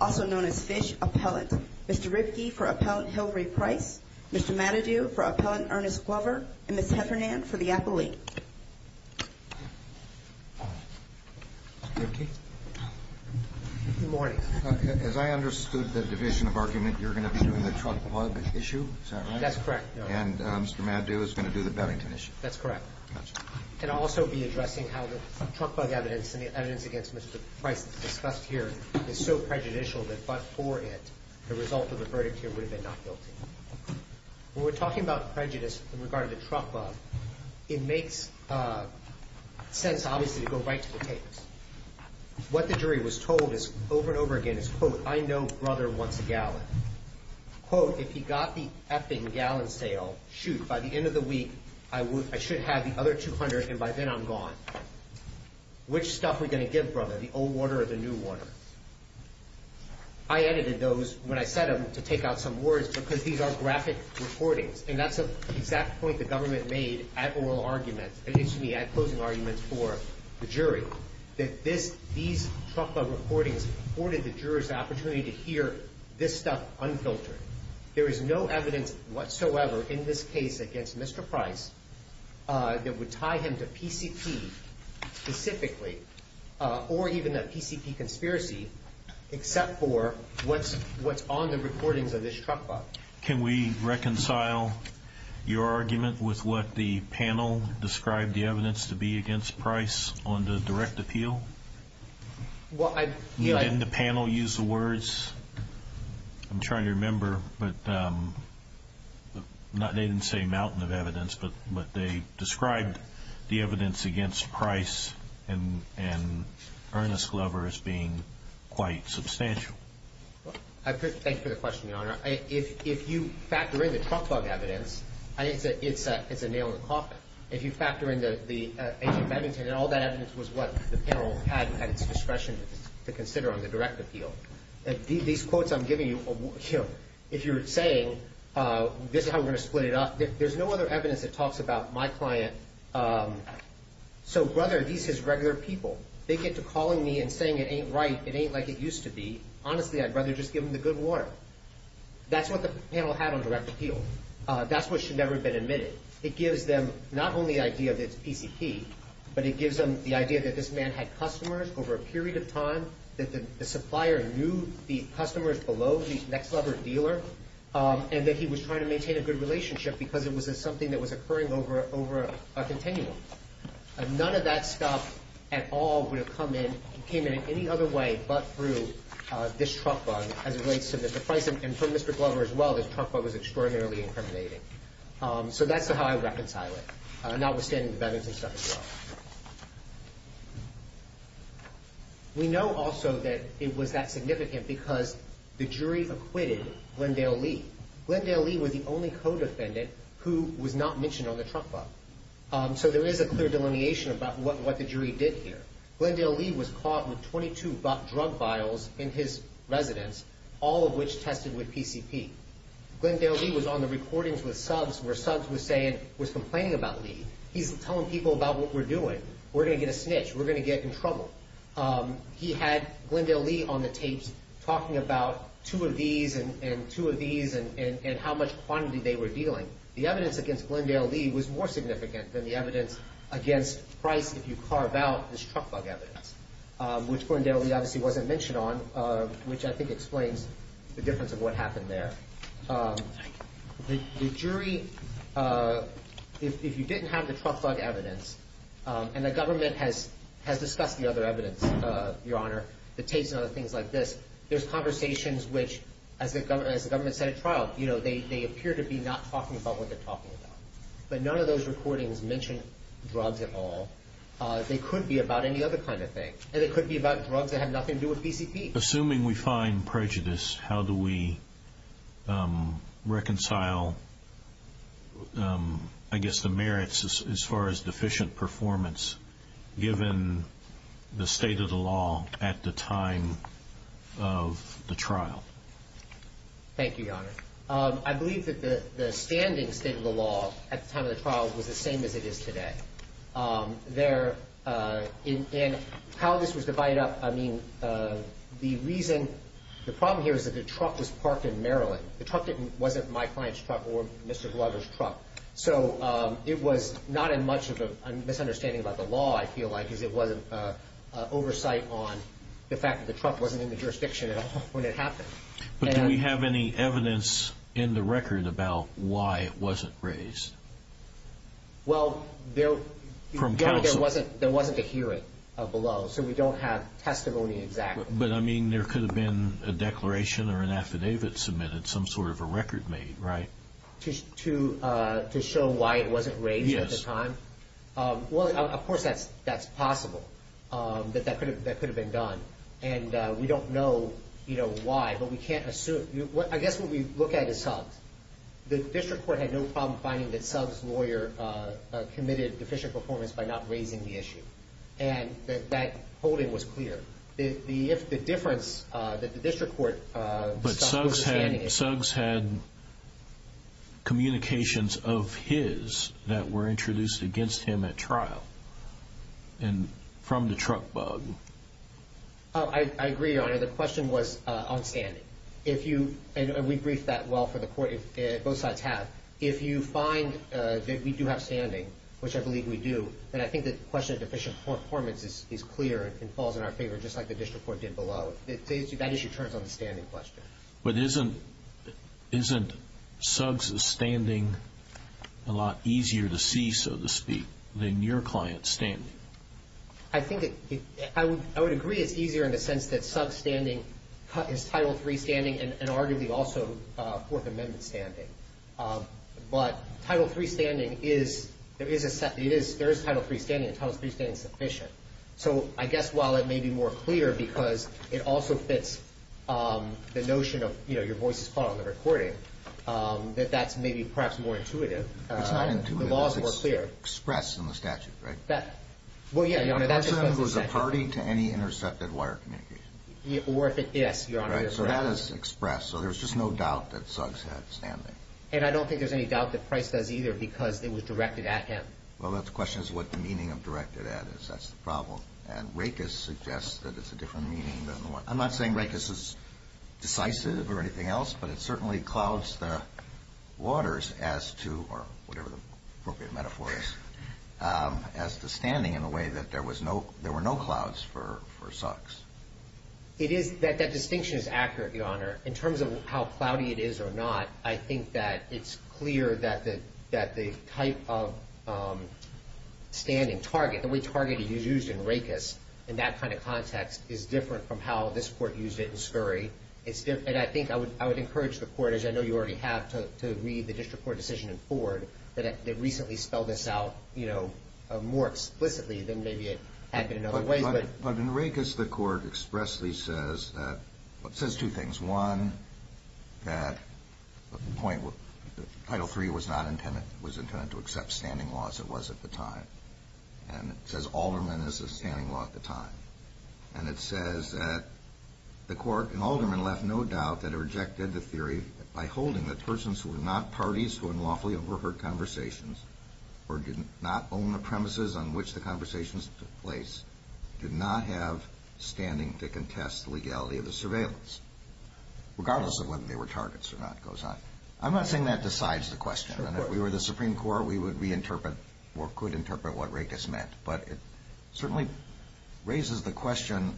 also known as Fish Appellant. Mr. Ripke for Appellant Hillary Price, Mr. Matadu for Appellant Ernest Glover, and Ms. Heffernan for the appellate. Good morning. As I understood the division of argument, you're going to be doing the truck plug issue, is that right? That's correct. And Mr. Matadu is going to do the Bellington issue. That's correct. And I'll also be addressing how the truck bug evidence and the evidence against Mr. Price discussed here is so prejudicial that but for it, the result of the verdict here would have been not guilty. When we're talking about prejudice in regard to the truck bug, it makes sense obviously to go right to the tapes. What the jury was told over and over again is, quote, I know brother wants a gallon. Quote, if he got the effing gallon sale, shoot, by the end of the week, I should have the other 200 and by then I'm gone. Which stuff are we going to give brother, the old water or the new water? I edited those when I set them to take out some words because these are graphic recordings and that's the exact point the government made at oral arguments, excuse me, at closing arguments for the jury, that these truck bug recordings afforded the jurors the opportunity to hear this stuff unfiltered. There is no evidence whatsoever in this case against Mr. Price that would tie him to PCP specifically or even a PCP conspiracy except for what's on the recordings of this truck bug. Can we reconcile your argument with what the panel described the evidence to be against Price on the direct appeal? Didn't the panel use the words, I'm trying to remember, but they didn't say a mountain of evidence, but they described the evidence against Price and Ernest Glover as being quite substantial. Thank you for the question, Your Honor. If you factor in the truck bug evidence, it's a nail in the coffin. If you factor in the agent Bennington and all that evidence was what the panel had at its discretion to consider on the direct appeal. These quotes I'm giving you, if you're saying this is how we're going to split it up, there's no other evidence that talks about my client. So, brother, these his regular people. They get to calling me and saying it ain't right, it ain't like it used to be. Honestly, I'd rather just give him the good water. That's what the panel had on direct appeal. That's what should never have been admitted. It gives them not only the idea that it's PCP, but it gives them the idea that this man had customers over a period of time, that the supplier knew the customers below, the next level dealer, and that he was trying to maintain a good relationship because it was something that was occurring over a continuum. None of that stuff at all would have come in, came in any other way but through this truck bug as it relates to Mr. Price and from Mr. Glover as well. This truck bug was extraordinarily incriminating. So that's how I reconcile it, notwithstanding the Bennington stuff as well. We know also that it was that significant because the jury acquitted Glendale Lee. Glendale Lee was the only co-defendant who was not mentioned on the truck bug. So there is a clear delineation about what the jury did here. Glendale Lee was caught with 22 drug vials in his residence, all of which tested with PCP. Glendale Lee was on the recordings with subs where subs was saying, was complaining about Lee. He's telling people about what we're doing. We're going to get a snitch. We're going to get in trouble. He had Glendale Lee on the tapes talking about two of these and two of these and how much quantity they were dealing. The evidence against Glendale Lee was more significant than the evidence against Price if you carve out this truck bug evidence, which Glendale Lee obviously wasn't mentioned on, which I think explains the difference of what happened there. The jury, if you didn't have the truck bug evidence and the government has discussed the other evidence, Your Honor, the tapes and other things like this, there's conversations which, as the government set a trial, they appear to be not talking about what they're talking about. But none of those recordings mention drugs at all. They could be about any other kind of thing, and it could be about drugs that have nothing to do with PCP. Assuming we find prejudice, how do we reconcile, I guess, the merits as far as deficient performance given the state of the law at the time of the trial? Thank you, Your Honor. I believe that the standing state of the law at the time of the trial was the same as it is today. There, and how this was divided up, I mean, the reason, the problem here is that the truck was parked in Maryland. The truck wasn't my client's truck or Mr. Glover's truck. So it was not in much of a misunderstanding about the law, I feel like, because it wasn't oversight on the fact that the truck wasn't in the jurisdiction at all when it happened. But do we have any evidence in the record about why it wasn't raised? Well, there wasn't a hearing below, so we don't have testimony exactly. But, I mean, there could have been a declaration or an affidavit submitted, some sort of a record made, right? To show why it wasn't raised at the time? Yes. Well, of course that's possible, that that could have been done. And we don't know why, but we can't assume. I guess what we look at is Suggs. The district court had no problem finding that Suggs' lawyer committed deficient performance by not raising the issue, and that that holding was clear. If the difference that the district court saw was outstanding. But Suggs had communications of his that were introduced against him at trial from the truck bug. I agree, Your Honor. The question was on standing. If you, and we briefed that well for the court, both sides have. If you find that we do have standing, which I believe we do, then I think the question of deficient performance is clear and falls in our favor just like the district court did below. That issue turns on the standing question. But isn't Suggs' standing a lot easier to see, so to speak, than your client's standing? I think I would agree it's easier in the sense that Suggs' standing is Title III standing and arguably also Fourth Amendment standing. But Title III standing is, there is Title III standing, and Title III standing is sufficient. So I guess while it may be more clear because it also fits the notion of, you know, your voice is caught on the recording, that that's maybe perhaps more intuitive. It's not intuitive. The law is more clear. It's expressed in the statute, right? Well, yeah, Your Honor, that just goes to the statute. The person was a party to any intercepted wire communication. Yes, Your Honor. Right? So that is expressed. So there's just no doubt that Suggs had standing. And I don't think there's any doubt that Price does either because it was directed at him. Well, the question is what the meaning of directed at is. That's the problem. And racist suggests that it's a different meaning than the one. I'm not saying racist is decisive or anything else, but it certainly clouds the waters as to, or whatever the appropriate metaphor is, as to standing in a way that there were no clouds for Suggs. That distinction is accurate, Your Honor. In terms of how cloudy it is or not, I think that it's clear that the type of standing target, the way target is used in racist in that kind of context is different from how this Court used it in scurry. And I think I would encourage the Court, as I know you already have, to read the district court decision in Ford that recently spelled this out, you know, more explicitly than maybe it had been in other ways. But in racist, the Court expressly says two things. One, that the point, Title III was intended to accept standing laws. It was at the time. And it says Alderman is a standing law at the time. And it says that the Court in Alderman left no doubt that it rejected the theory by holding that persons who were not parties to unlawfully overheard conversations or did not own the premises on which the conversations took place did not have standing to contest the legality of the surveillance, regardless of whether they were targets or not, goes on. I'm not saying that decides the question. And if we were the Supreme Court, we would reinterpret or could interpret what racist meant. But it certainly raises the question,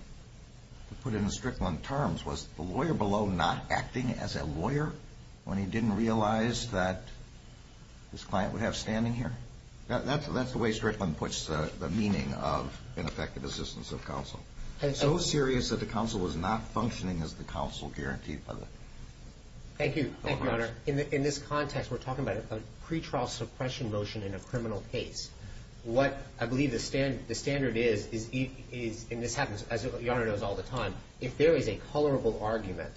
to put it in Strickland terms, was the lawyer below not acting as a lawyer when he didn't realize that his client would have standing here? That's the way Strickland puts the meaning of ineffective assistance of counsel. So serious that the counsel was not functioning as the counsel guaranteed. Thank you. Thank you, Your Honor. In this context, we're talking about a pretrial suppression motion in a criminal case. What I believe the standard is, and this happens, as Your Honor knows, all the time, if there is a colorable argument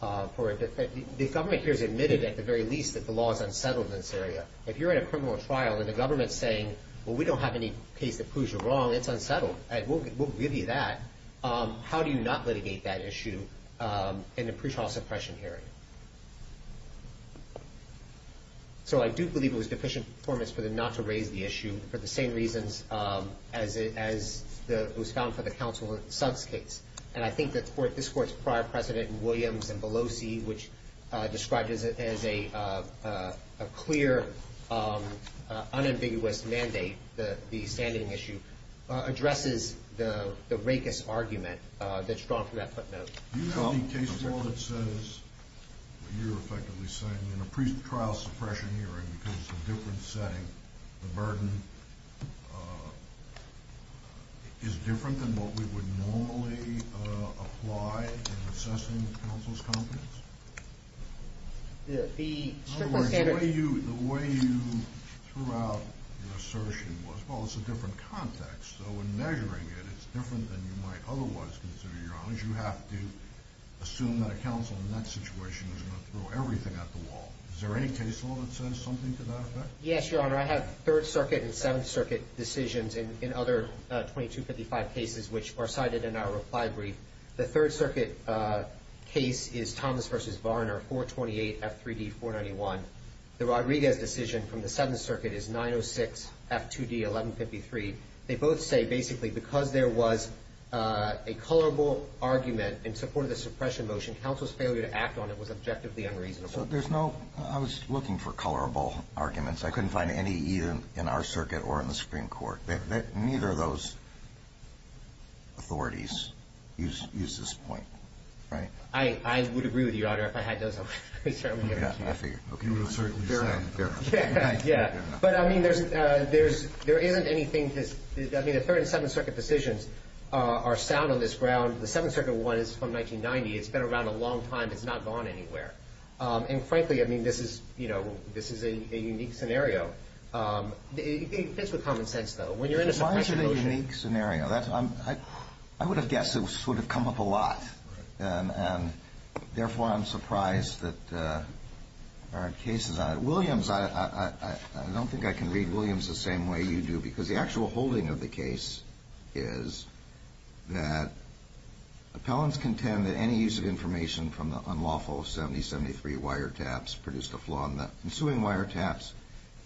for it, if the government here has admitted at the very least that the law is unsettled in this area, if you're in a criminal trial and the government is saying, well, we don't have any case that proves you're wrong, it's unsettled, we'll give you that, how do you not litigate that issue in a pretrial suppression hearing? So I do believe it was deficient performance for them not to raise the issue for the same reasons as it was found for the counsel in Sud's case. And I think that this Court's prior precedent in Williams and Belosi, which described it as a clear, unambiguous mandate, the standing issue, addresses the racist argument that's drawn from that footnote. Do you have any case law that says what you're effectively saying, in a pretrial suppression hearing, because it's a different setting, the burden is different than what we would normally apply in assessing counsel's competence? In other words, the way you threw out your assertion was, well, it's a different context, so in measuring it, it's different than you might otherwise consider, Your Honor. That means you have to assume that a counsel in that situation is going to throw everything at the wall. Is there any case law that says something to that effect? Yes, Your Honor. I have Third Circuit and Seventh Circuit decisions in other 2255 cases which are cited in our reply brief. The Third Circuit case is Thomas v. Varner, 428 F3D 491. The Rodriguez decision from the Seventh Circuit is 906 F2D 1153. They both say basically because there was a colorable argument in support of the suppression motion, counsel's failure to act on it was objectively unreasonable. So there's no – I was looking for colorable arguments. I couldn't find any either in our circuit or in the Supreme Court. Neither of those authorities use this point, right? I would agree with you, Your Honor, if I had those. I figured. Fair enough. Fair enough. Yeah. But, I mean, there isn't anything – I mean, the Third and Seventh Circuit decisions are sound on this ground. The Seventh Circuit one is from 1990. It's been around a long time. It's not gone anywhere. And, frankly, I mean, this is a unique scenario. It fits with common sense, though. When you're in a suppression motion – Why is it a unique scenario? I would have guessed it would have come up a lot. Therefore, I'm surprised that there aren't cases on it. Williams – I don't think I can read Williams the same way you do because the actual holding of the case is that appellants contend that any use of information from the unlawful 7073 wiretaps produced a flaw in the ensuing wiretaps.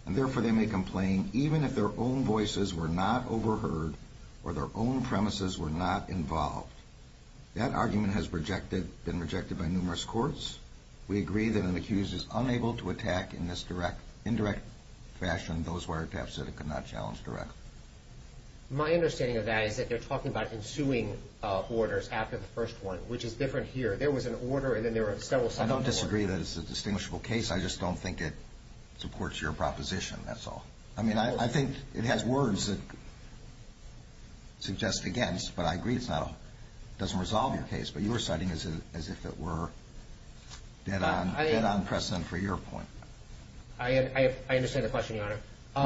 And, therefore, they may complain even if their own voices were not overheard or their own premises were not involved. That argument has been rejected by numerous courts. We agree that an accused is unable to attack in this indirect fashion those wiretaps that it could not challenge directly. My understanding of that is that they're talking about ensuing orders after the first one, which is different here. There was an order, and then there were several subsequent orders. I don't disagree that it's a distinguishable case. I just don't think it supports your proposition, that's all. I mean, I think it has words that suggest against, but I agree it doesn't resolve your case. But you were citing it as if it were dead on precedent for your point. I understand the question, Your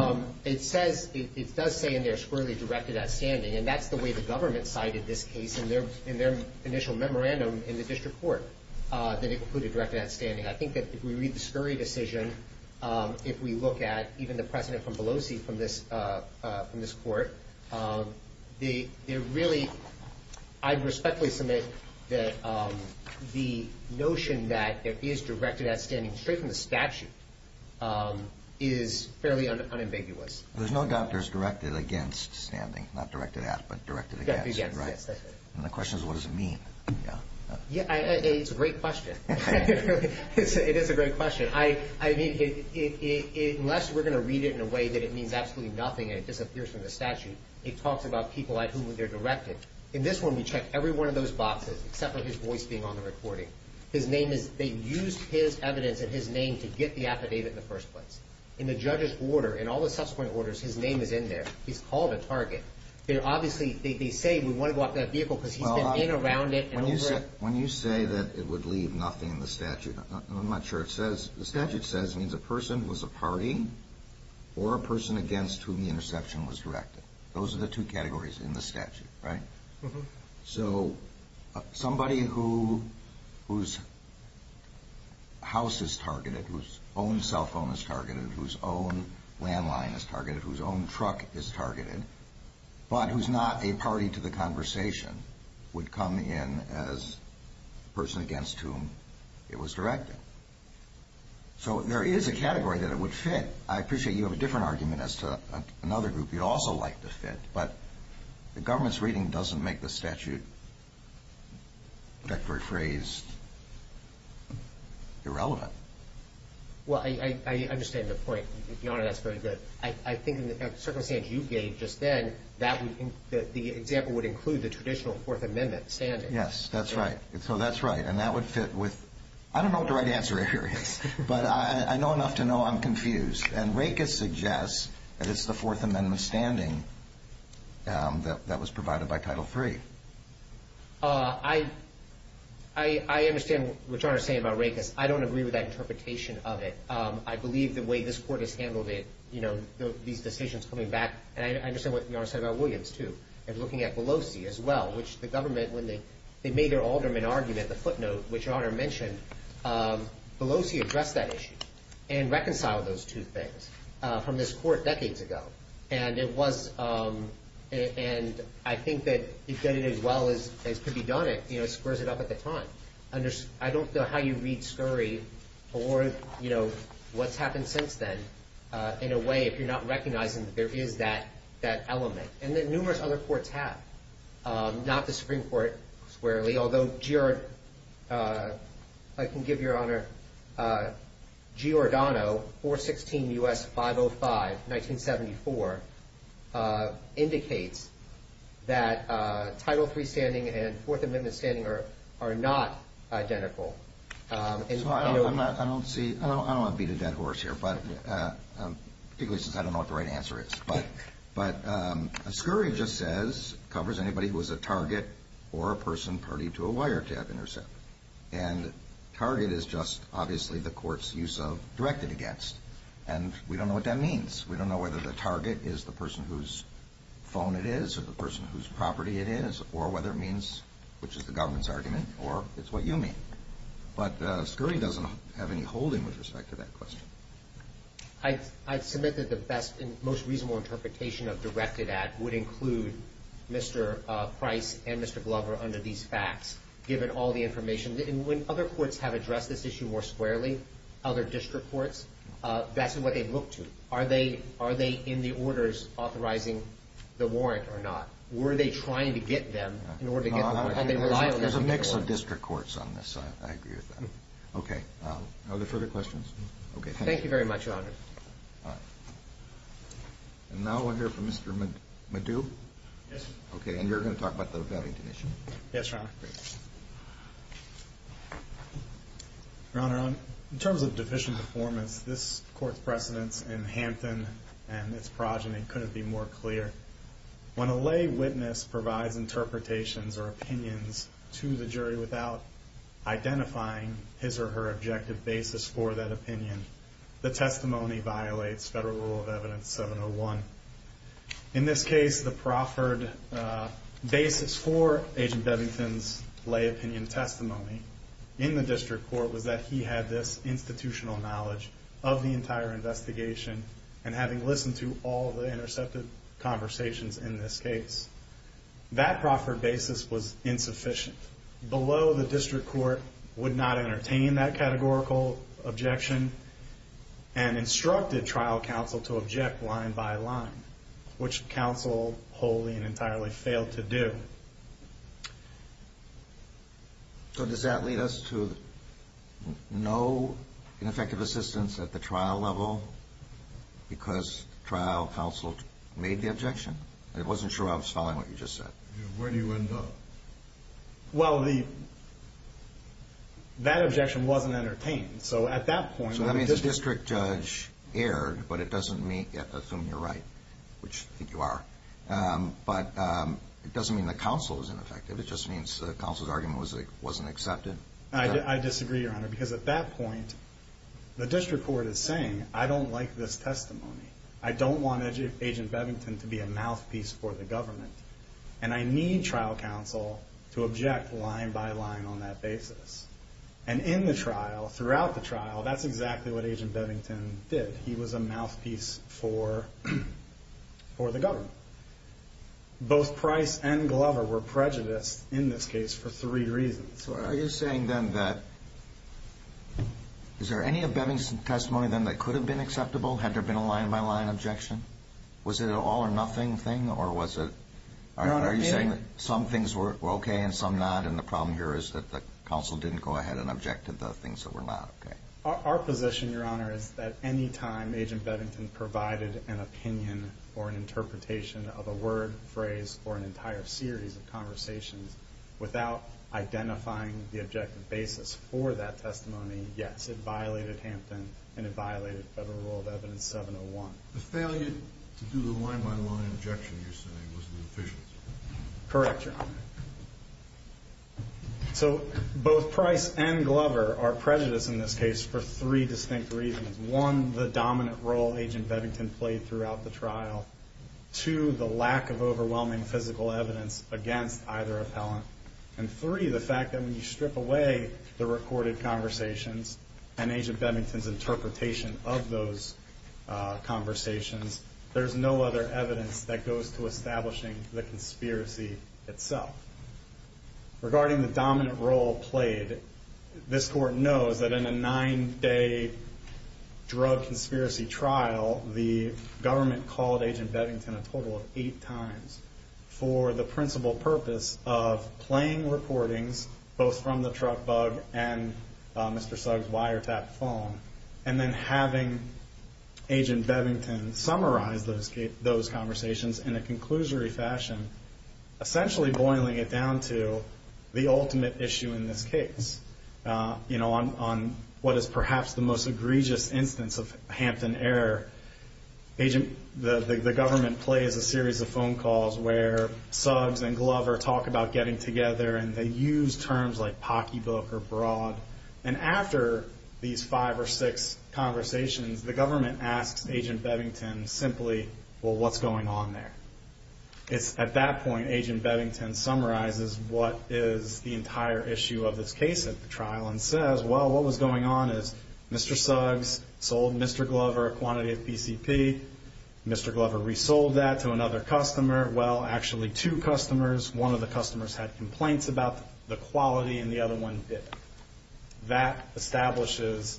Honor. It says, it does say in there, scurrily directed at standing, and that's the way the government cited this case in their initial memorandum in the district court, that it included directed at standing. I think that if we read the scurry decision, if we look at even the precedent from Pelosi from this court, they really, I respectfully submit that the notion that it is directed at standing straight from the statute is fairly unambiguous. There's no doctors directed against standing, not directed at, but directed against, right? Directed against, yes. And the question is, what does it mean? It's a great question. It is a great question. I mean, unless we're going to read it in a way that it means absolutely nothing and it disappears from the statute, it talks about people at whom they're directed. In this one, we checked every one of those boxes except for his voice being on the recording. His name is, they used his evidence and his name to get the affidavit in the first place. In the judge's order, in all the subsequent orders, his name is in there. He's called a target. They're obviously, they say we want to go after that vehicle because he's been in and around it and over it. When you say that it would leave nothing in the statute, and I'm not sure it says, the statute says it means a person was a party or a person against whom the interception was directed. Those are the two categories in the statute, right? So somebody whose house is targeted, whose own cell phone is targeted, whose own landline is targeted, whose own truck is targeted, but who's not a party to the conversation, would come in as a person against whom it was directed. So there is a category that it would fit. I appreciate you have a different argument as to another group you'd also like to fit, but the government's reading doesn't make the statute, perfectly phrased, irrelevant. Well, I understand the point. Your Honor, that's very good. I think in the circumstance you gave just then, the example would include the traditional Fourth Amendment standing. Yes, that's right. So that's right. And that would fit with, I don't know what the right answer here is, but I know enough to know I'm confused. And Rakes suggests that it's the Fourth Amendment standing that was provided by Title III. I understand what Your Honor is saying about Rakes. I don't agree with that interpretation of it. I believe the way this Court has handled it, these decisions coming back, and I understand what Your Honor said about Williams, too, and looking at Pelosi as well, which the government, when they made their alderman argument, the footnote, which Your Honor mentioned, Pelosi addressed that issue and reconciled those two things from this Court decades ago. And I think that it did it as well as could be done. It squares it up at the time. I don't know how you read Scurry or, you know, what's happened since then, in a way, if you're not recognizing that there is that element. And that numerous other courts have, not the Supreme Court squarely, although I can give Your Honor Giordano, 416 U.S. 505, 1974, indicates that Title III standing and Fourth Amendment standing are not identical. I don't want to beat a dead horse here, particularly since I don't know what the right answer is. But Scurry just says, covers anybody who is a target or a person party to a wiretap intercept. And target is just, obviously, the court's use of directed against. And we don't know what that means. We don't know whether the target is the person whose phone it is or the person whose property it is or whether it means, which is the government's argument, or it's what you mean. But Scurry doesn't have any holding with respect to that question. I submit that the best and most reasonable interpretation of directed at would include Mr. Price and Mr. Glover under these facts, given all the information. And when other courts have addressed this issue more squarely, other district courts, that's what they've looked to. Are they in the orders authorizing the warrant or not? Were they trying to get them in order to get the warrant? And they rely on them to get the warrant. There's a mix of district courts on this. I agree with that. Okay. Are there further questions? Okay. Thank you very much, Your Honor. All right. And now we'll hear from Mr. Maddu. Yes, sir. Okay. And you're going to talk about the validity issue? Yes, Your Honor. Great. Your Honor, in terms of deficient performance, this court's precedence in Hampton and its progeny couldn't be more clear. When a lay witness provides interpretations or opinions to the jury without identifying his or her objective basis for that opinion, the testimony violates Federal Rule of Evidence 701. In this case, the proffered basis for Agent Bevington's lay opinion testimony in the district court was that he had this institutional knowledge of the entire investigation and having listened to all the intercepted conversations in this case. That proffered basis was insufficient. Below, the district court would not entertain that categorical objection and instructed trial counsel to object line by line, which counsel wholly and entirely failed to do. So does that lead us to no ineffective assistance at the trial level because trial counsel made the objection? I wasn't sure I was following what you just said. Where do you end up? Well, that objection wasn't entertained. So that means the district judge erred, but it doesn't assume you're right, which I think you are. But it doesn't mean the counsel is ineffective. It just means the counsel's argument wasn't accepted. I disagree, Your Honor, because at that point, the district court is saying, I don't like this testimony. I don't want Agent Bevington to be a mouthpiece for the government, and I need trial counsel to object line by line on that basis. And in the trial, throughout the trial, that's exactly what Agent Bevington did. He was a mouthpiece for the government. Both Price and Glover were prejudiced in this case for three reasons. Are you saying then that is there any of Bevington's testimony then that could have been acceptable had there been a line by line objection? Was it an all or nothing thing, or was it? Are you saying that some things were okay and some not, and the problem here is that the counsel didn't go ahead and object to the things that were not okay? Our position, Your Honor, is that any time Agent Bevington provided an opinion or an interpretation of a word, phrase, or an entire series of conversations without identifying the objective basis for that testimony, yes, it violated Hampton and it violated Federal Rule of Evidence 701. The failure to do the line by line objection, you're saying, was inefficient? Correct, Your Honor. So both Price and Glover are prejudiced in this case for three distinct reasons. One, the dominant role Agent Bevington played throughout the trial. Two, the lack of overwhelming physical evidence against either appellant. And three, the fact that when you strip away the recorded conversations and Agent Bevington's interpretation of those conversations, there's no other evidence that goes to establishing the conspiracy itself. Regarding the dominant role played, this Court knows that in a nine-day drug conspiracy trial, the government called Agent Bevington a total of eight times for the principal purpose of playing recordings, both from the truck bug and Mr. Sugg's wiretap phone, and then having Agent Bevington summarize those conversations in a conclusory fashion, essentially boiling it down to the ultimate issue in this case. On what is perhaps the most egregious instance of Hampton error, the government plays a series of phone calls where Suggs and Glover talk about getting together and they use terms like pocky book or broad, and after these five or six conversations, the government asks Agent Bevington simply, well, what's going on there? At that point, Agent Bevington summarizes what is the entire issue of this case at the trial and says, well, what was going on is Mr. Suggs sold Mr. Glover a quantity of PCP. Mr. Glover resold that to another customer. Well, actually two customers, one of the customers had complaints about the quality and the other one didn't. That establishes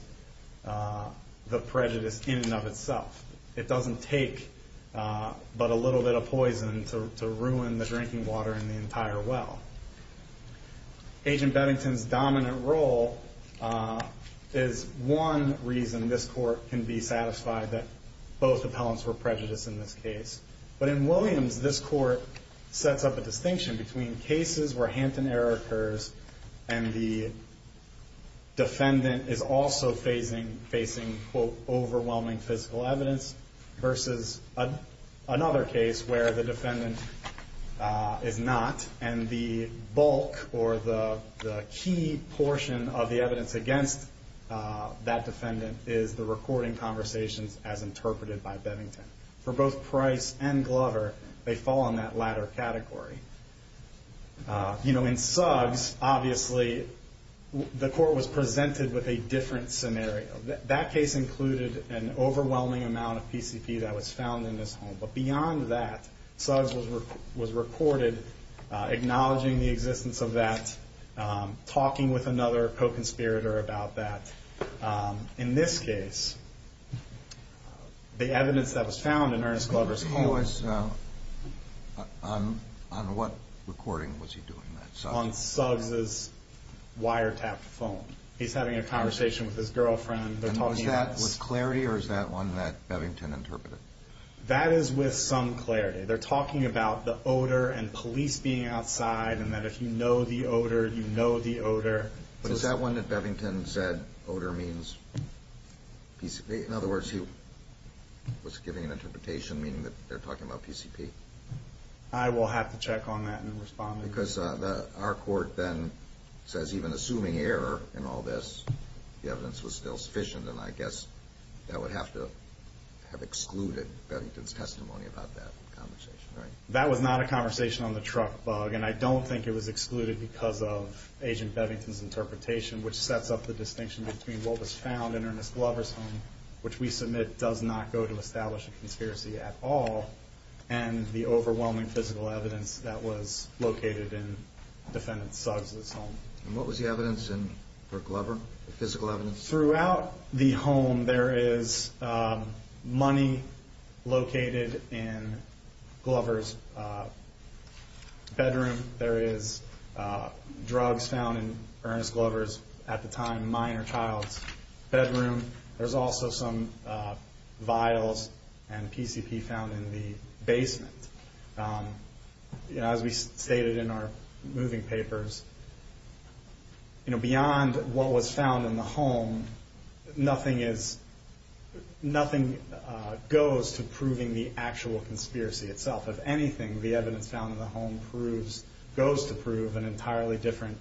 the prejudice in and of itself. It doesn't take but a little bit of poison to ruin the drinking water in the entire well. Agent Bevington's dominant role is one reason this court can be satisfied that both appellants were prejudiced in this case, but in Williams, this court sets up a distinction between cases where Hanton error occurs and the defendant is also facing quote, overwhelming physical evidence versus another case where the defendant is not and the bulk or the key portion of the evidence against that defendant is the recording conversations as interpreted by Bevington. For both Price and Glover, they fall in that latter category. You know, in Suggs, obviously, the court was presented with a different scenario. That case included an overwhelming amount of PCP that was found in this home, but beyond that, Suggs was recorded acknowledging the existence of that, talking with another co-conspirator about that. In this case, the evidence that was found in Ernest Glover's home... He was, on what recording was he doing that? On Suggs' wiretapped phone. He's having a conversation with his girlfriend. And was that with clarity or is that one that Bevington interpreted? That is with some clarity. They're talking about the odor and police being outside and that if you know the odor, you know the odor. Is that one that Bevington said, odor means PCP? In other words, he was giving an interpretation meaning that they're talking about PCP? I will have to check on that and respond. Because our court then says even assuming error in all this, the evidence was still sufficient, and I guess that would have to have excluded Bevington's testimony about that conversation, right? That was not a conversation on the truck bug, and I don't think it was excluded because of Agent Bevington's interpretation, which sets up the distinction between what was found in Ernest Glover's home, which we submit does not go to establish a conspiracy at all, and the overwhelming physical evidence that was located in defendant Suggs' home. And what was the evidence for Glover, the physical evidence? Throughout the home, there is money located in Glover's bedroom. There is drugs found in Ernest Glover's, at the time, minor child's bedroom. There's also some vials and PCP found in the basement. As we stated in our moving papers, beyond what was found in the home, nothing goes to proving the actual conspiracy itself. If anything, the evidence found in the home goes to prove an entirely different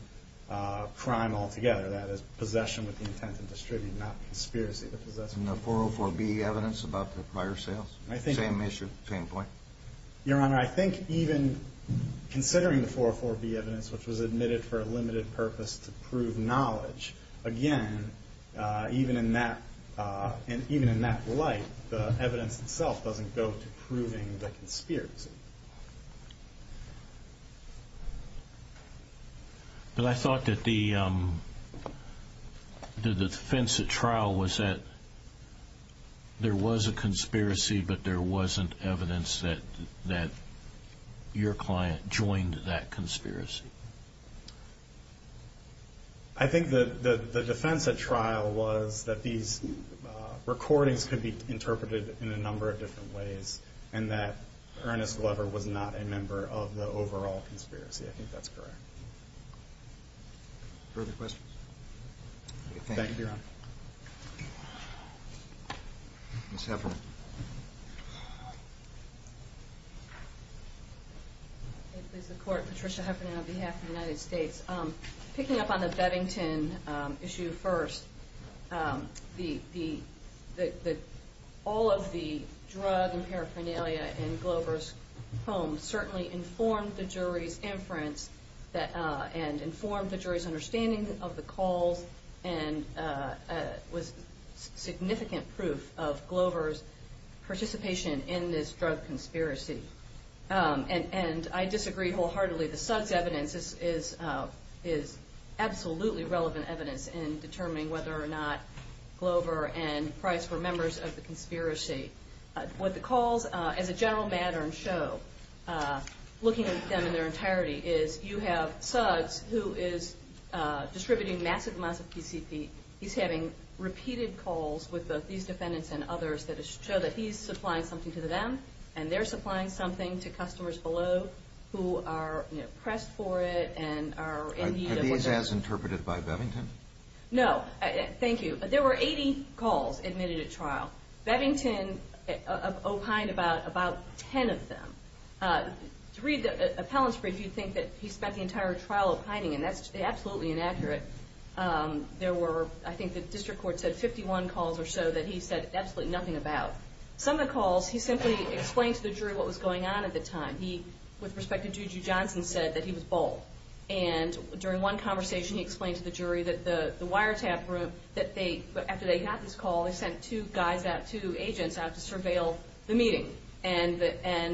crime altogether, that is, possession with the intent to distribute, not conspiracy to possess. And the 404B evidence about the prior sales? Same issue, same point? Your Honor, I think even considering the 404B evidence, which was admitted for a limited purpose to prove knowledge, again, even in that light, the evidence itself doesn't go to proving the conspiracy. But I thought that the defense at trial was that there was a conspiracy, but there wasn't evidence that your client joined that conspiracy. I think that the defense at trial was that these recordings could be interpreted in a number of different ways, and that Ernest Glover was not a member of the overall conspiracy. I think that's correct. Further questions? Thank you, Your Honor. Ms. Heffernan. It is the Court. Patricia Heffernan on behalf of the United States. Picking up on the Bevington issue first, all of the drug and paraphernalia in Glover's home certainly informed the jury's inference and informed the jury's understanding of the calls and was significant proof of Glover's participation in this drug conspiracy. And I disagree wholeheartedly. The Suggs evidence is absolutely relevant evidence in determining whether or not Glover and Price were members of the conspiracy. What the calls as a general matter show, looking at them in their entirety, is you have Suggs, who is distributing massive amounts of PCP. He's having repeated calls with both these defendants and others that show that he's supplying something to them, and they're supplying something to customers below who are pressed for it and are in need of it. Are these as interpreted by Bevington? No. Thank you. There were 80 calls admitted at trial. Bevington opined about 10 of them. To read the appellant's brief, you'd think that he spent the entire trial opining, and that's absolutely inaccurate. There were, I think the district court said, 51 calls or so that he said absolutely nothing about. Some of the calls, he simply explained to the jury what was going on at the time. He, with respect to Juju Johnson, said that he was bald. And during one conversation, he explained to the jury that the wiretap room, that they, after they got this call, they sent two guys out, two agents out to surveil the meeting. And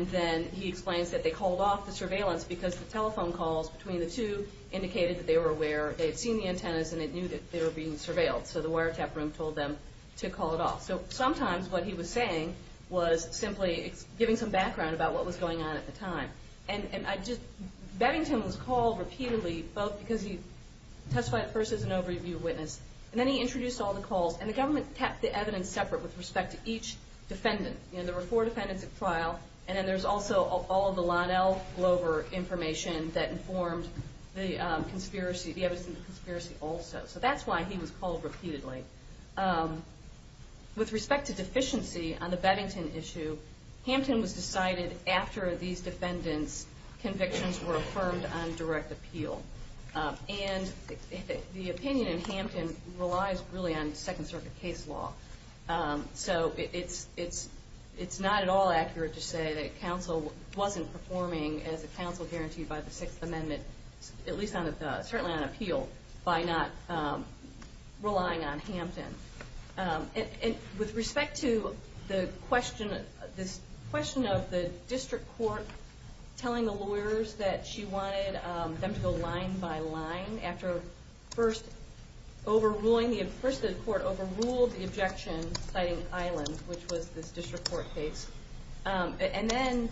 then he explains that they called off the surveillance because the telephone calls between the two indicated that they were aware. They had seen the antennas, and they knew that they were being surveilled. So the wiretap room told them to call it off. So sometimes what he was saying was simply giving some background about what was going on at the time. And I just, Beddington was called repeatedly, both because he testified at first as an overview witness, and then he introduced all the calls. And the government kept the evidence separate with respect to each defendant. You know, there were four defendants at trial, and then there's also all of the Lonell Glover information that informed the conspiracy, the evidence in the conspiracy also. So that's why he was called repeatedly. With respect to deficiency on the Beddington issue, Hampton was decided after these defendants' convictions were affirmed on direct appeal. And the opinion in Hampton relies really on Second Circuit case law. So it's not at all accurate to say that counsel wasn't performing as a counsel guaranteed by the Sixth Amendment, at least certainly on appeal, by not relying on Hampton. And with respect to the question, this question of the district court telling the lawyers that she wanted them to go line by line after first overruling, first the court overruled the objection citing Island, which was this district court case, and then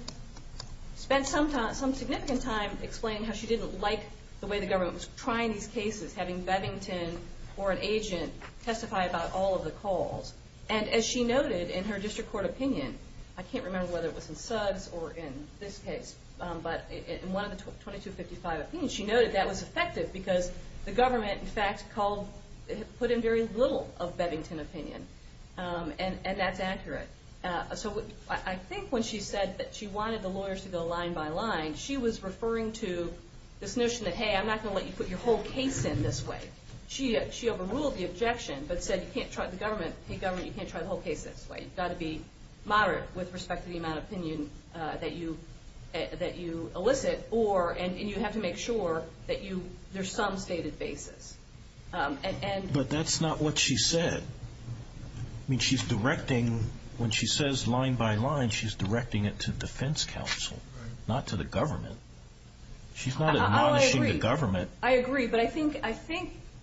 spent some significant time explaining how she didn't like the way the government was trying these cases, having Beddington or an agent testify about all of the calls. And as she noted in her district court opinion, I can't remember whether it was in Suggs or in this case, but in one of the 2255 opinions, she noted that was effective because the government, in fact, put in very little of Beddington's opinion. And that's accurate. So I think when she said that she wanted the lawyers to go line by line, she was referring to this notion that, A, I'm not going to let you put your whole case in this way. She overruled the objection, but said you can't try the whole case this way. You've got to be moderate with respect to the amount of opinion that you elicit, and you have to make sure that there's some stated basis. But that's not what she said. I mean, when she says line by line, she's directing it to defense counsel, not to the government. She's not admonishing the government. I agree, but I think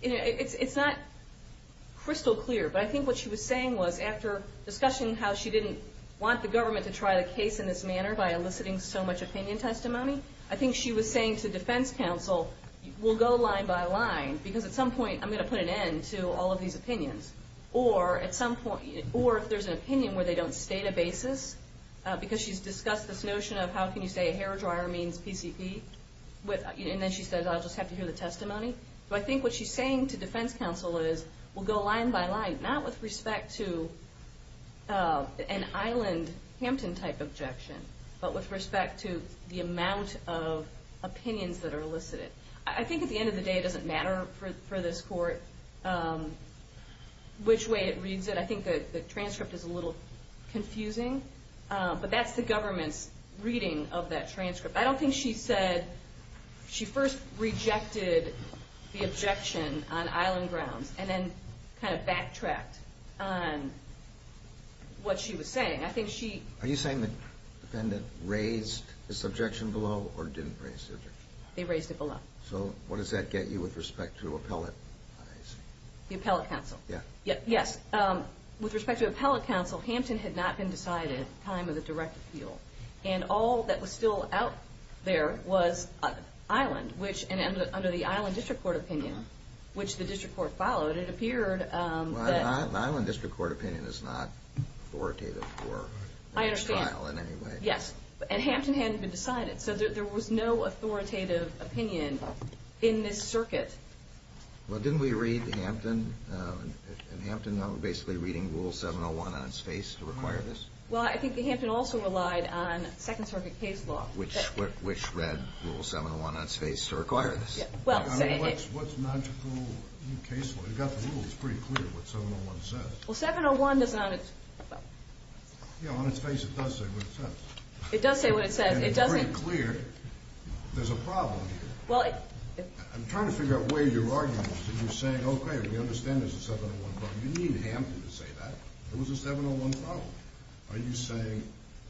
it's not crystal clear, but I think what she was saying was, after discussing how she didn't want the government to try the case in this manner by eliciting so much opinion testimony, I think she was saying to defense counsel, we'll go line by line, because at some point I'm going to put an end to all of these opinions. Or if there's an opinion where they don't state a basis, because she's discussed this notion of, how can you say a hair dryer means PCP? And then she says, I'll just have to hear the testimony. But I think what she's saying to defense counsel is, we'll go line by line, not with respect to an Island Hampton type objection, but with respect to the amount of opinions that are elicited. I think at the end of the day it doesn't matter for this court which way it reads it. I think the transcript is a little confusing, but that's the government's reading of that transcript. I don't think she said, she first rejected the objection on Island grounds and then kind of backtracked on what she was saying. I think she... Are you saying the defendant raised this objection below or didn't raise the objection? They raised it below. So what does that get you with respect to appellate? The appellate counsel. Yeah. Yes. With respect to appellate counsel, Hampton had not been decided at the time of the direct appeal, and all that was still out there was Island, which under the Island District Court opinion, which the district court followed, it appeared that... The Island District Court opinion is not authoritative for trial in any way. I understand. Yes. And Hampton hadn't been decided, so there was no authoritative opinion in this circuit. Well, didn't we read Hampton? And Hampton basically reading Rule 701 on its face to require this? Well, I think Hampton also relied on Second Circuit case law. Which read Rule 701 on its face to require this. Well, saying it... What's logical in case law? You've got the rules. It's pretty clear what 701 says. Well, 701 does not... Yeah, on its face it does say what it says. It does say what it says. And it's pretty clear there's a problem here. Well, it... I'm trying to figure out where you're arguing. So you're saying, okay, we understand there's a 701 problem. You need Hampton to say that. There was a 701 problem. Are you saying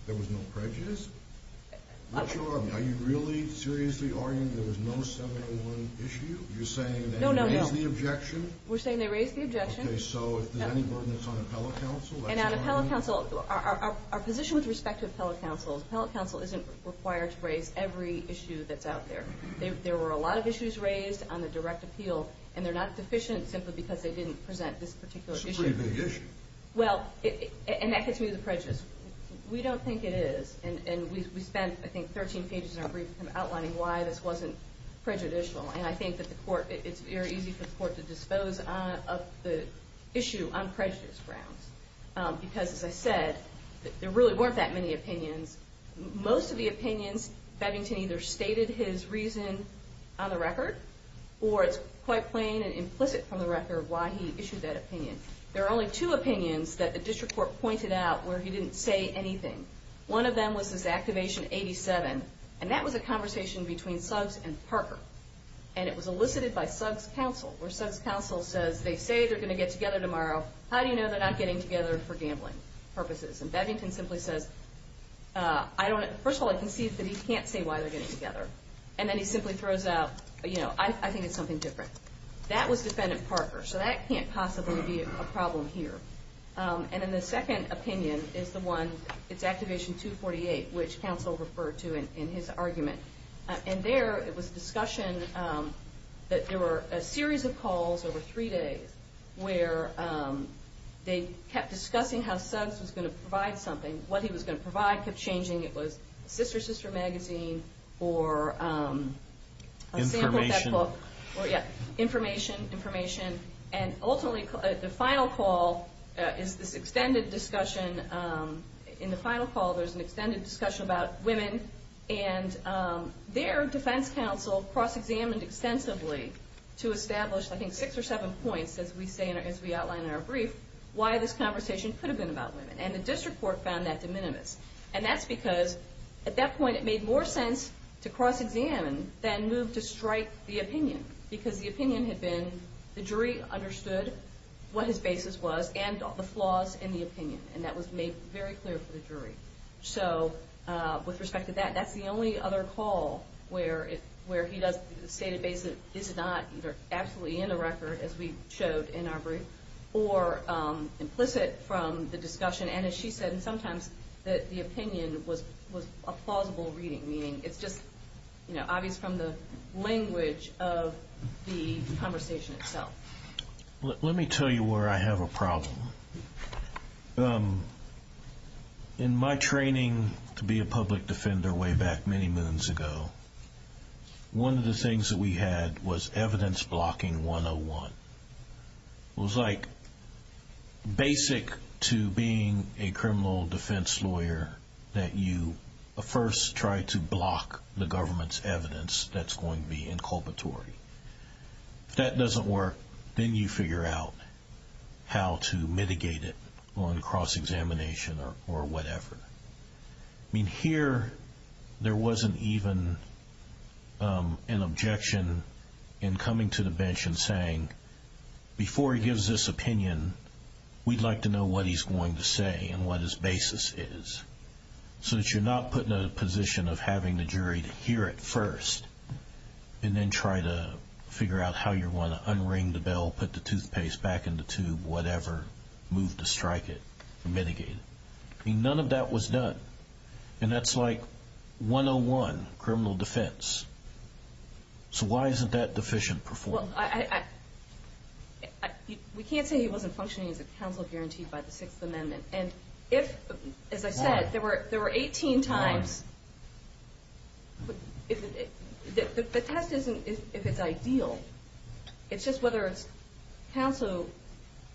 there was no prejudice? Are you really seriously arguing there was no 701 issue? You're saying they raised the objection? No, no, no. We're saying they raised the objection. Okay, so if there's any burden that's on appellate counsel... And on appellate counsel, our position with respect to appellate counsel is appellate counsel isn't required to raise every issue that's out there. There were a lot of issues raised on the direct appeal. And they're not deficient simply because they didn't present this particular issue. It's a pretty big issue. Well, and that gets me to the prejudice. We don't think it is. And we spent, I think, 13 pages in our brief kind of outlining why this wasn't prejudicial. And I think that the court... It's very easy for the court to dispose of the issue on prejudice grounds. Because, as I said, there really weren't that many opinions. Most of the opinions, Bevington either stated his reason on the record or it's quite plain and implicit from the record why he issued that opinion. There are only two opinions that the district court pointed out where he didn't say anything. One of them was this Activation 87, and that was a conversation between Suggs and Parker. And it was elicited by Suggs counsel, where Suggs counsel says, they say they're going to get together tomorrow. How do you know they're not getting together for gambling purposes? And Bevington simply says, first of all, I can see that he can't say why they're getting together. And then he simply throws out, you know, I think it's something different. That was Defendant Parker. So that can't possibly be a problem here. And then the second opinion is the one, it's Activation 248, which counsel referred to in his argument. And there it was a discussion that there were a series of calls over three days where they kept discussing how Suggs was going to provide something. What he was going to provide kept changing. It was Sister Sister Magazine or a sample of that book. Information. Or, yeah, information, information. And ultimately the final call is this extended discussion. In the final call there's an extended discussion about women. As we say, as we outline in our brief, why this conversation could have been about women. And the district court found that de minimis. And that's because at that point it made more sense to cross-examine than move to strike the opinion. Because the opinion had been the jury understood what his basis was and the flaws in the opinion. And that was made very clear for the jury. So with respect to that, that's the only other call where he does state a basis that is not either absolutely in the record, as we showed in our brief, or implicit from the discussion. And as she said, sometimes the opinion was a plausible reading. Meaning it's just obvious from the language of the conversation itself. Let me tell you where I have a problem. In my training to be a public defender way back many moons ago, one of the things that we had was evidence blocking 101. It was like basic to being a criminal defense lawyer that you first try to block the government's evidence that's going to be inculpatory. If that doesn't work, then you figure out how to mitigate it on cross-examination or whatever. I mean, here there wasn't even an objection in coming to the bench and saying, before he gives this opinion, we'd like to know what he's going to say and what his basis is. So that you're not put in a position of having the jury to hear it first and then try to figure out how you're going to unring the bell, put the toothpaste back in the tube, whatever, move to strike it, mitigate it. I mean, none of that was done. And that's like 101, criminal defense. So why isn't that deficient performance? We can't say he wasn't functioning as a counsel guaranteed by the Sixth Amendment. And if, as I said, there were 18 times. The test isn't if it's ideal. It's just whether it's counsel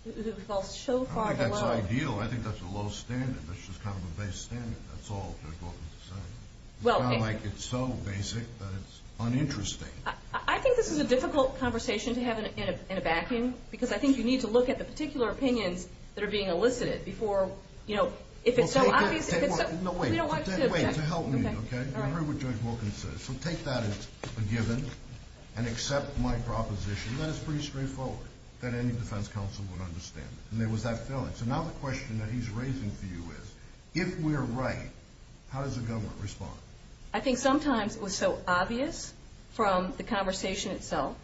who falls so far below. If it's ideal, I think that's a low standard. That's just kind of a base standard. That's all Judge Wilkins is saying. It's not like it's so basic that it's uninteresting. I think this is a difficult conversation to have in a backing because I think you need to look at the particular opinions that are being elicited before, you know, if it's so obvious. No, wait. We don't want you to object. Wait, to help me, okay? You heard what Judge Wilkins said. So take that as a given and accept my proposition that it's pretty straightforward, that any defense counsel would understand it. And there was that feeling. So now the question that he's raising for you is, if we're right, how does the government respond? I think sometimes it was so obvious from the conversation itself.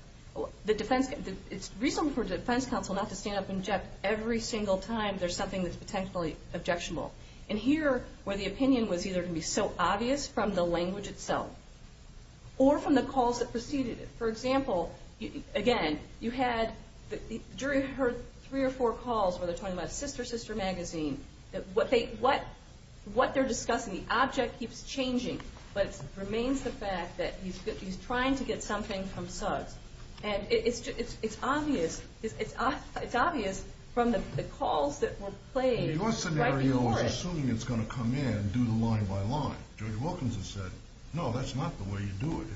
It's reasonable for a defense counsel not to stand up and object every single time there's something that's potentially objectionable. And here, where the opinion was either going to be so obvious from the language itself or from the calls that preceded it. For example, again, you had the jury heard three or four calls where they're talking about Sister, Sister Magazine. What they're discussing, the object keeps changing, but it remains the fact that he's trying to get something from Suggs. And it's obvious from the calls that were played right before it. Your scenario was assuming it's going to come in and do the line by line. Judge Wilkins has said, no, that's not the way you do it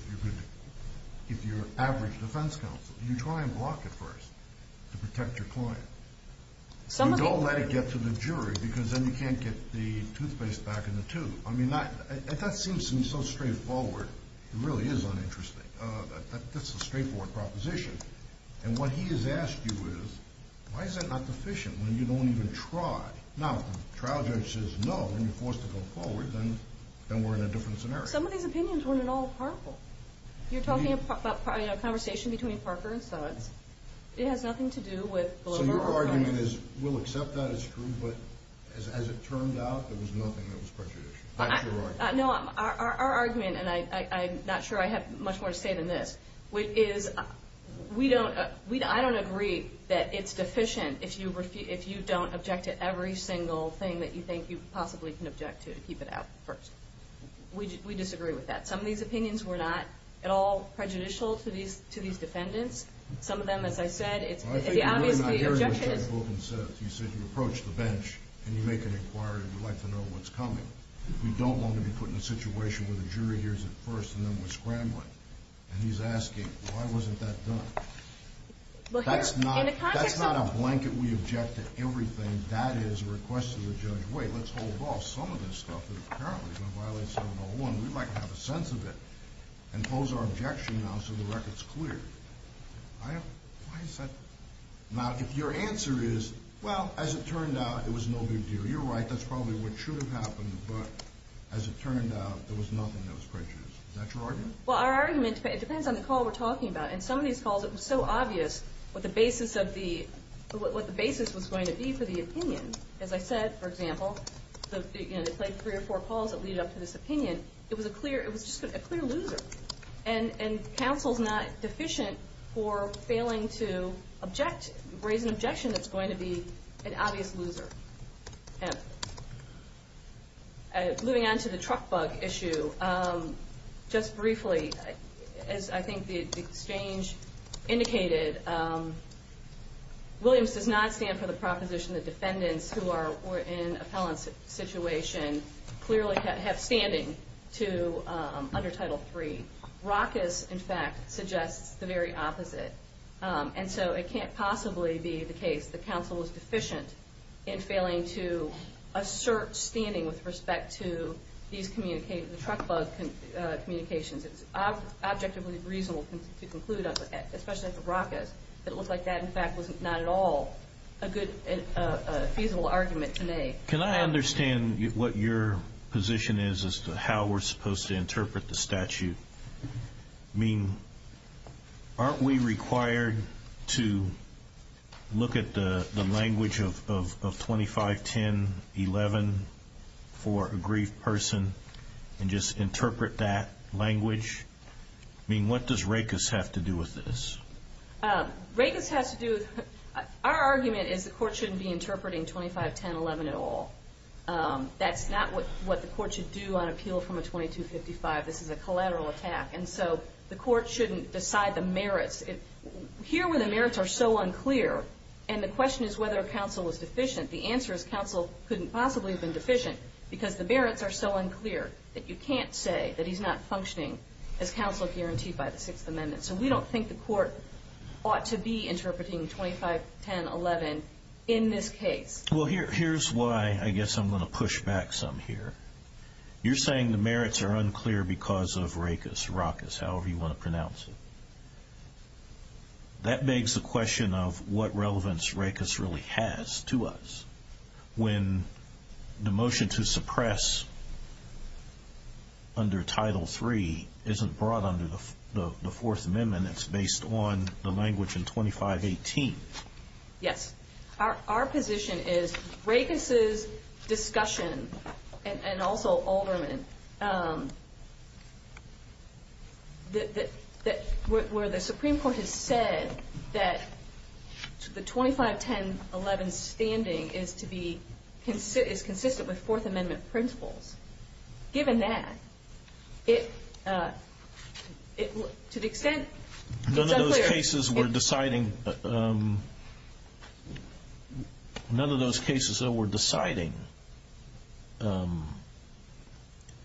if you're average defense counsel. You try and block it first to protect your client. Don't let it get to the jury because then you can't get the toothpaste back in the tube. I mean, that seems so straightforward. It really is uninteresting. That's a straightforward proposition. And what he has asked you is, why is that not sufficient when you don't even try? Now, if the trial judge says no and you're forced to go forward, then we're in a different scenario. Some of these opinions weren't at all powerful. You're talking about a conversation between Parker and Suggs. It has nothing to do with the liberal argument. So your argument is, we'll accept that it's true, but as it turned out, there was nothing that was prejudicial. That's your argument. No, our argument, and I'm not sure I have much more to say than this, is I don't agree that it's deficient if you don't object to every single thing that you think you possibly can object to to keep it out first. We disagree with that. Some of these opinions were not at all prejudicial to these defendants. Some of them, as I said, it's obviously the objection is. I think you might not hear what Judge Wilkins says. You said you approach the bench and you make an inquiry and you'd like to know what's coming. We don't want to be put in a situation where the jury hears it first and then we're scrambling. And he's asking, why wasn't that done? That's not a blanket we object to everything. That is a request to the judge, wait, let's hold off some of this stuff that apparently is going to violate 7.01. We might have a sense of it and pose our objection now so the record's clear. Why is that? Now, if your answer is, well, as it turned out, it was no big deal. You're right, that's probably what should have happened, but as it turned out, there was nothing that was prejudiced. Is that your argument? Well, our argument depends on the call we're talking about. In some of these calls, it was so obvious what the basis was going to be for the opinion. As I said, for example, they played three or four calls that lead up to this opinion. It was just a clear loser. And counsel's not deficient for failing to raise an objection that's going to be an obvious loser. Moving on to the truck bug issue, just briefly, as I think the exchange indicated, Williams does not stand for the proposition that defendants who are in an appellant situation clearly have standing under Title III. Rackus, in fact, suggests the very opposite. And so it can't possibly be the case that counsel was deficient in failing to assert standing with respect to these truck bug communications. It's objectively reasonable to conclude, especially for Rackus, that it looked like that, in fact, was not at all a good, feasible argument to make. Can I understand what your position is as to how we're supposed to interpret the statute? I mean, aren't we required to look at the language of 25-10-11 for a grieved person and just interpret that language? I mean, what does Rackus have to do with this? Rackus has to do with – our argument is the court shouldn't be interpreting 25-10-11 at all. That's not what the court should do on appeal from a 2255. This is a collateral attack, and so the court shouldn't decide the merits. Here where the merits are so unclear, and the question is whether counsel was deficient, the answer is counsel couldn't possibly have been deficient because the merits are so unclear that you can't say that he's not functioning as counsel guaranteed by the Sixth Amendment. So we don't think the court ought to be interpreting 25-10-11 in this case. Well, here's why I guess I'm going to push back some here. You're saying the merits are unclear because of Rackus, however you want to pronounce it. That begs the question of what relevance Rackus really has to us. When the motion to suppress under Title III isn't brought under the Fourth Amendment, it's based on the language in 25-18. Yes. Our position is Rackus' discussion, and also Alderman, where the Supreme Court has said that the 25-10-11 standing is consistent with Fourth Amendment principles. Given that, to the extent it's unclear. None of those cases were deciding,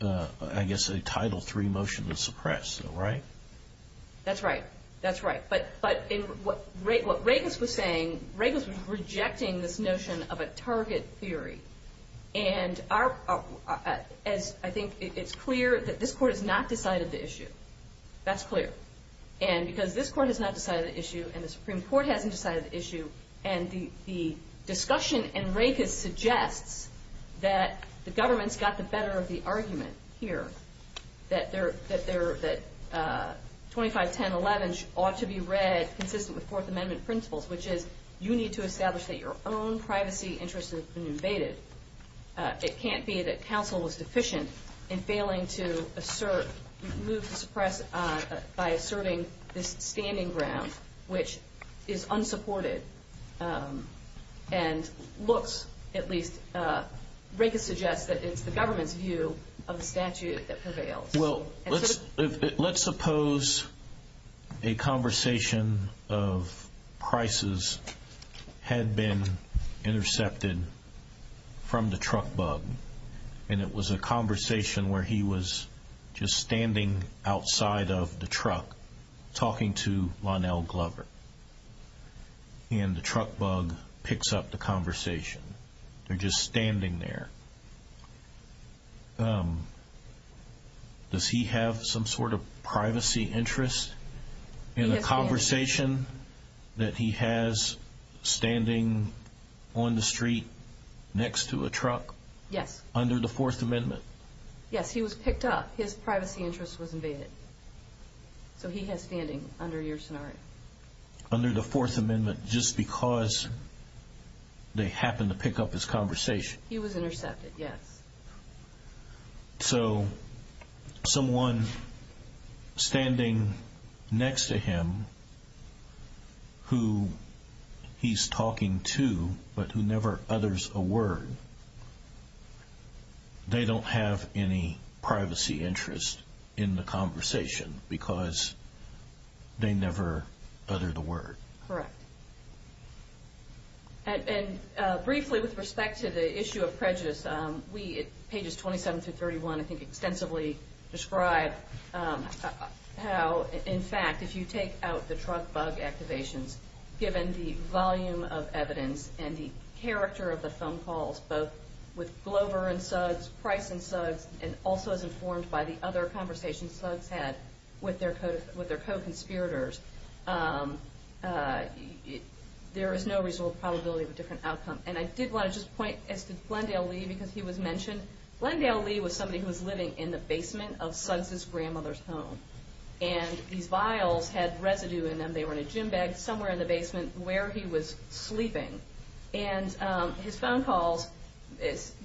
I guess, a Title III motion to suppress, right? That's right. That's right. But what Rackus was saying, Rackus was rejecting this notion of a target theory. And I think it's clear that this Court has not decided the issue. That's clear. And because this Court has not decided the issue, and the Supreme Court hasn't decided the issue, and the discussion in Rackus suggests that the government's got the better of the argument here, that 25-10-11 ought to be read consistent with Fourth Amendment principles, which is you need to establish that your own privacy interests have been invaded. It can't be that counsel was deficient in failing to assert, move to suppress by asserting this standing ground, which is unsupported. And looks, at least, Rackus suggests that it's the government's view of the statute that prevails. Well, let's suppose a conversation of prices had been intercepted from the truck bug, and it was a conversation where he was just standing outside of the truck talking to Lonell Glover. And the truck bug picks up the conversation. They're just standing there. Does he have some sort of privacy interest in the conversation that he has standing on the street next to a truck? Yes. Under the Fourth Amendment? Yes, he was picked up. His privacy interest was invaded. So he has standing under your scenario. Under the Fourth Amendment, just because they happened to pick up his conversation? He was intercepted, yes. So someone standing next to him who he's talking to but who never utters a word, they don't have any privacy interest in the conversation because they never uttered a word. Correct. And briefly, with respect to the issue of prejudice, we, at pages 27 through 31, I think extensively describe how, in fact, if you take out the truck bug activations, given the volume of evidence and the character of the phone calls, both with Glover and Suggs, Price and Suggs, and also as informed by the other conversations Suggs had with their co-conspirators, there is no reasonable probability of a different outcome. And I did want to just point as to Glendale Lee because he was mentioned. Glendale Lee was somebody who was living in the basement of Suggs' grandmother's home. And these vials had residue in them. They were in a gym bag somewhere in the basement where he was sleeping. And his phone calls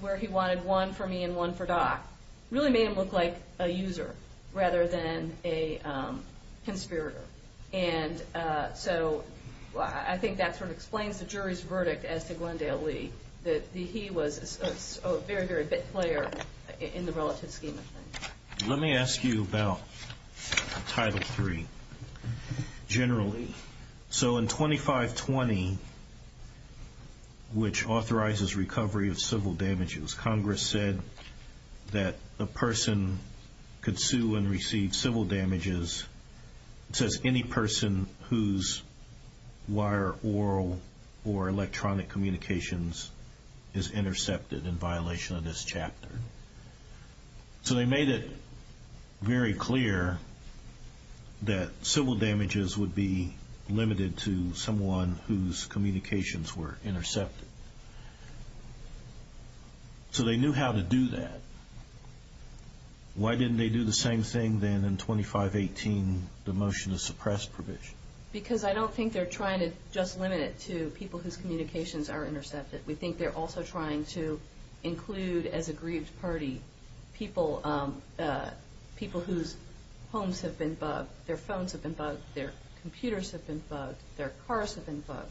where he wanted one for me and one for Doc really made him look like a user rather than a conspirator. And so I think that sort of explains the jury's verdict as to Glendale Lee, that he was a very, very big player in the relative scheme of things. Let me ask you about Title III generally. So in 2520, which authorizes recovery of civil damages, Congress said that a person could sue and receive civil damages. It says any person whose wire, oral, or electronic communications is intercepted in violation of this chapter. So they made it very clear that civil damages would be limited to someone whose communications were intercepted. So they knew how to do that. Why didn't they do the same thing then in 2518, the motion to suppress provision? Because I don't think they're trying to just limit it to people whose communications are intercepted. We think they're also trying to include as a grieved party people whose homes have been bugged, their phones have been bugged, their computers have been bugged, their cars have been bugged.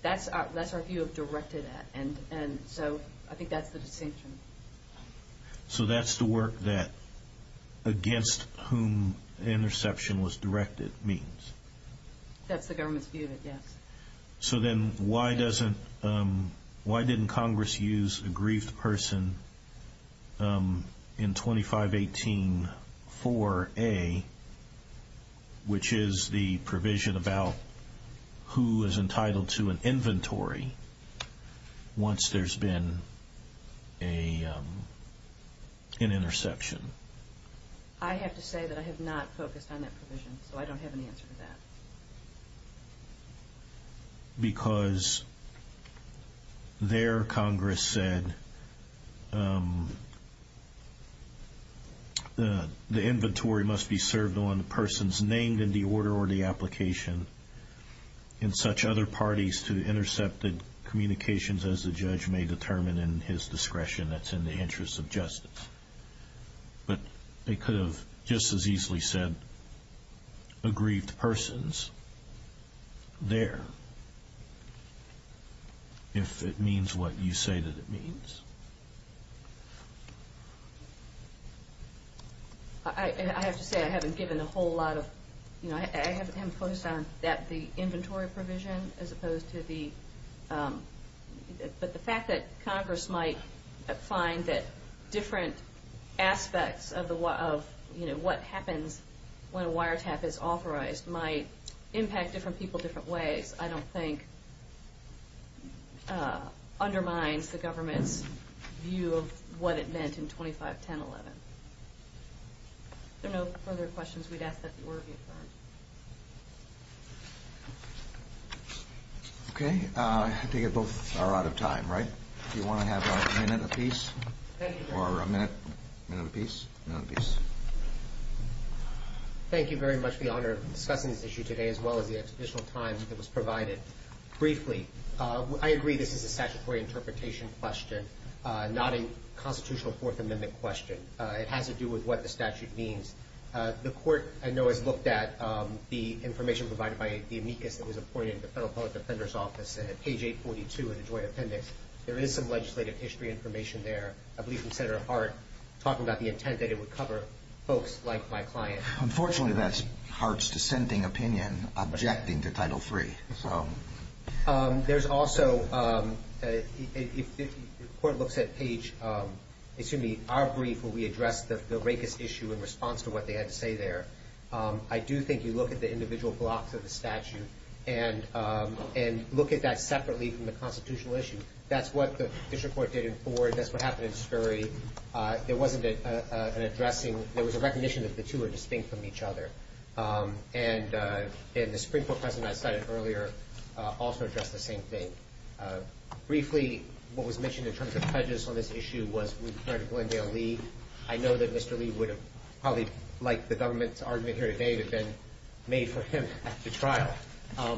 That's our view of directed at. And so I think that's the distinction. So that's the work that against whom interception was directed means? That's the government's view of it, yes. So then why didn't Congress use a grieved person in 2518-4A, which is the provision about who is entitled to an inventory once there's been an interception? I have to say that I have not focused on that provision, so I don't have an answer to that. Because there Congress said the inventory must be served on persons named in the order or the application in such other parties to intercept the communications as the judge may determine in his discretion that's in the interest of justice. But they could have just as easily said a grieved persons there if it means what you say that it means. I have to say I haven't given a whole lot of, you know, I haven't focused on that, the inventory provision as opposed to the, but the fact that Congress might find that different aspects of what happens when a wiretap is authorized might impact different people different ways, which I don't think undermines the government's view of what it meant in 2510-11. If there are no further questions, we'd ask that the order be affirmed. Okay. I think both are out of time, right? Do you want to have a minute apiece or a minute, minute apiece? Thank you very much for the honor of discussing this issue today as well as the additional time that was provided. Briefly, I agree this is a statutory interpretation question, not a constitutional Fourth Amendment question. It has to do with what the statute means. The court, I know, has looked at the information provided by the amicus that was appointed to the Federal Public Defender's Office at page 842 in the joint appendix. There is some legislative history information there. I believe from Senator Hart talking about the intent that it would cover folks like my client. Unfortunately, that's Hart's dissenting opinion objecting to Title III. There's also, if the court looks at page, excuse me, our brief, where we address the racist issue in response to what they had to say there, I do think you look at the individual blocks of the statute and look at that separately from the constitutional issue. That's what the district court did in Ford. That's what happened in Scurry. There wasn't an addressing. There was a recognition that the two were distinct from each other. And the Supreme Court precedent I cited earlier also addressed the same thing. Briefly, what was mentioned in terms of prejudice on this issue was we referred to Glendale Lee. I know that Mr. Lee would have probably, like the government's argument here today, would have been made for him to trial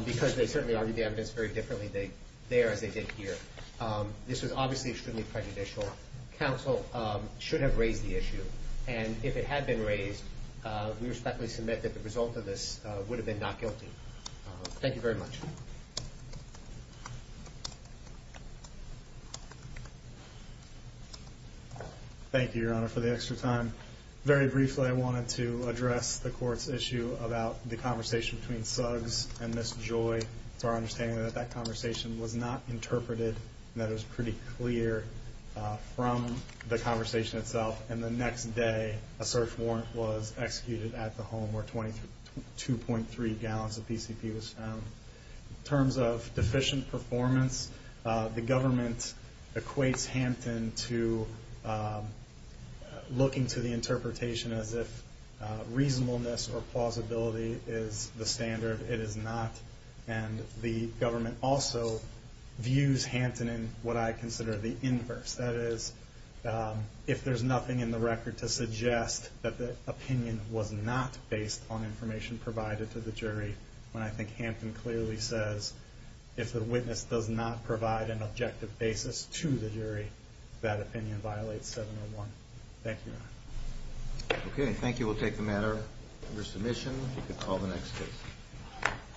because they certainly argued the evidence very differently there as they did here. This was obviously extremely prejudicial. Counsel should have raised the issue, and if it had been raised, we respectfully submit that the result of this would have been not guilty. Thank you very much. Thank you, Your Honor, for the extra time. Very briefly, I wanted to address the court's issue about the conversation between Suggs and Ms. Joy. It's our understanding that that conversation was not interpreted, and that it was pretty clear from the conversation itself. And the next day, a search warrant was executed at the home where 22.3 gallons of PCP was found. In terms of deficient performance, the government equates Hampton to looking to the interpretation as if reasonableness or plausibility is the standard. It is not, and the government also views Hampton in what I consider the inverse. That is, if there's nothing in the record to suggest that the opinion was not based on information provided to the jury, then I think Hampton clearly says if the witness does not provide an objective basis to the jury, that opinion violates 701. Thank you, Your Honor. Okay, thank you. We'll take the matter under submission. You can call the next case.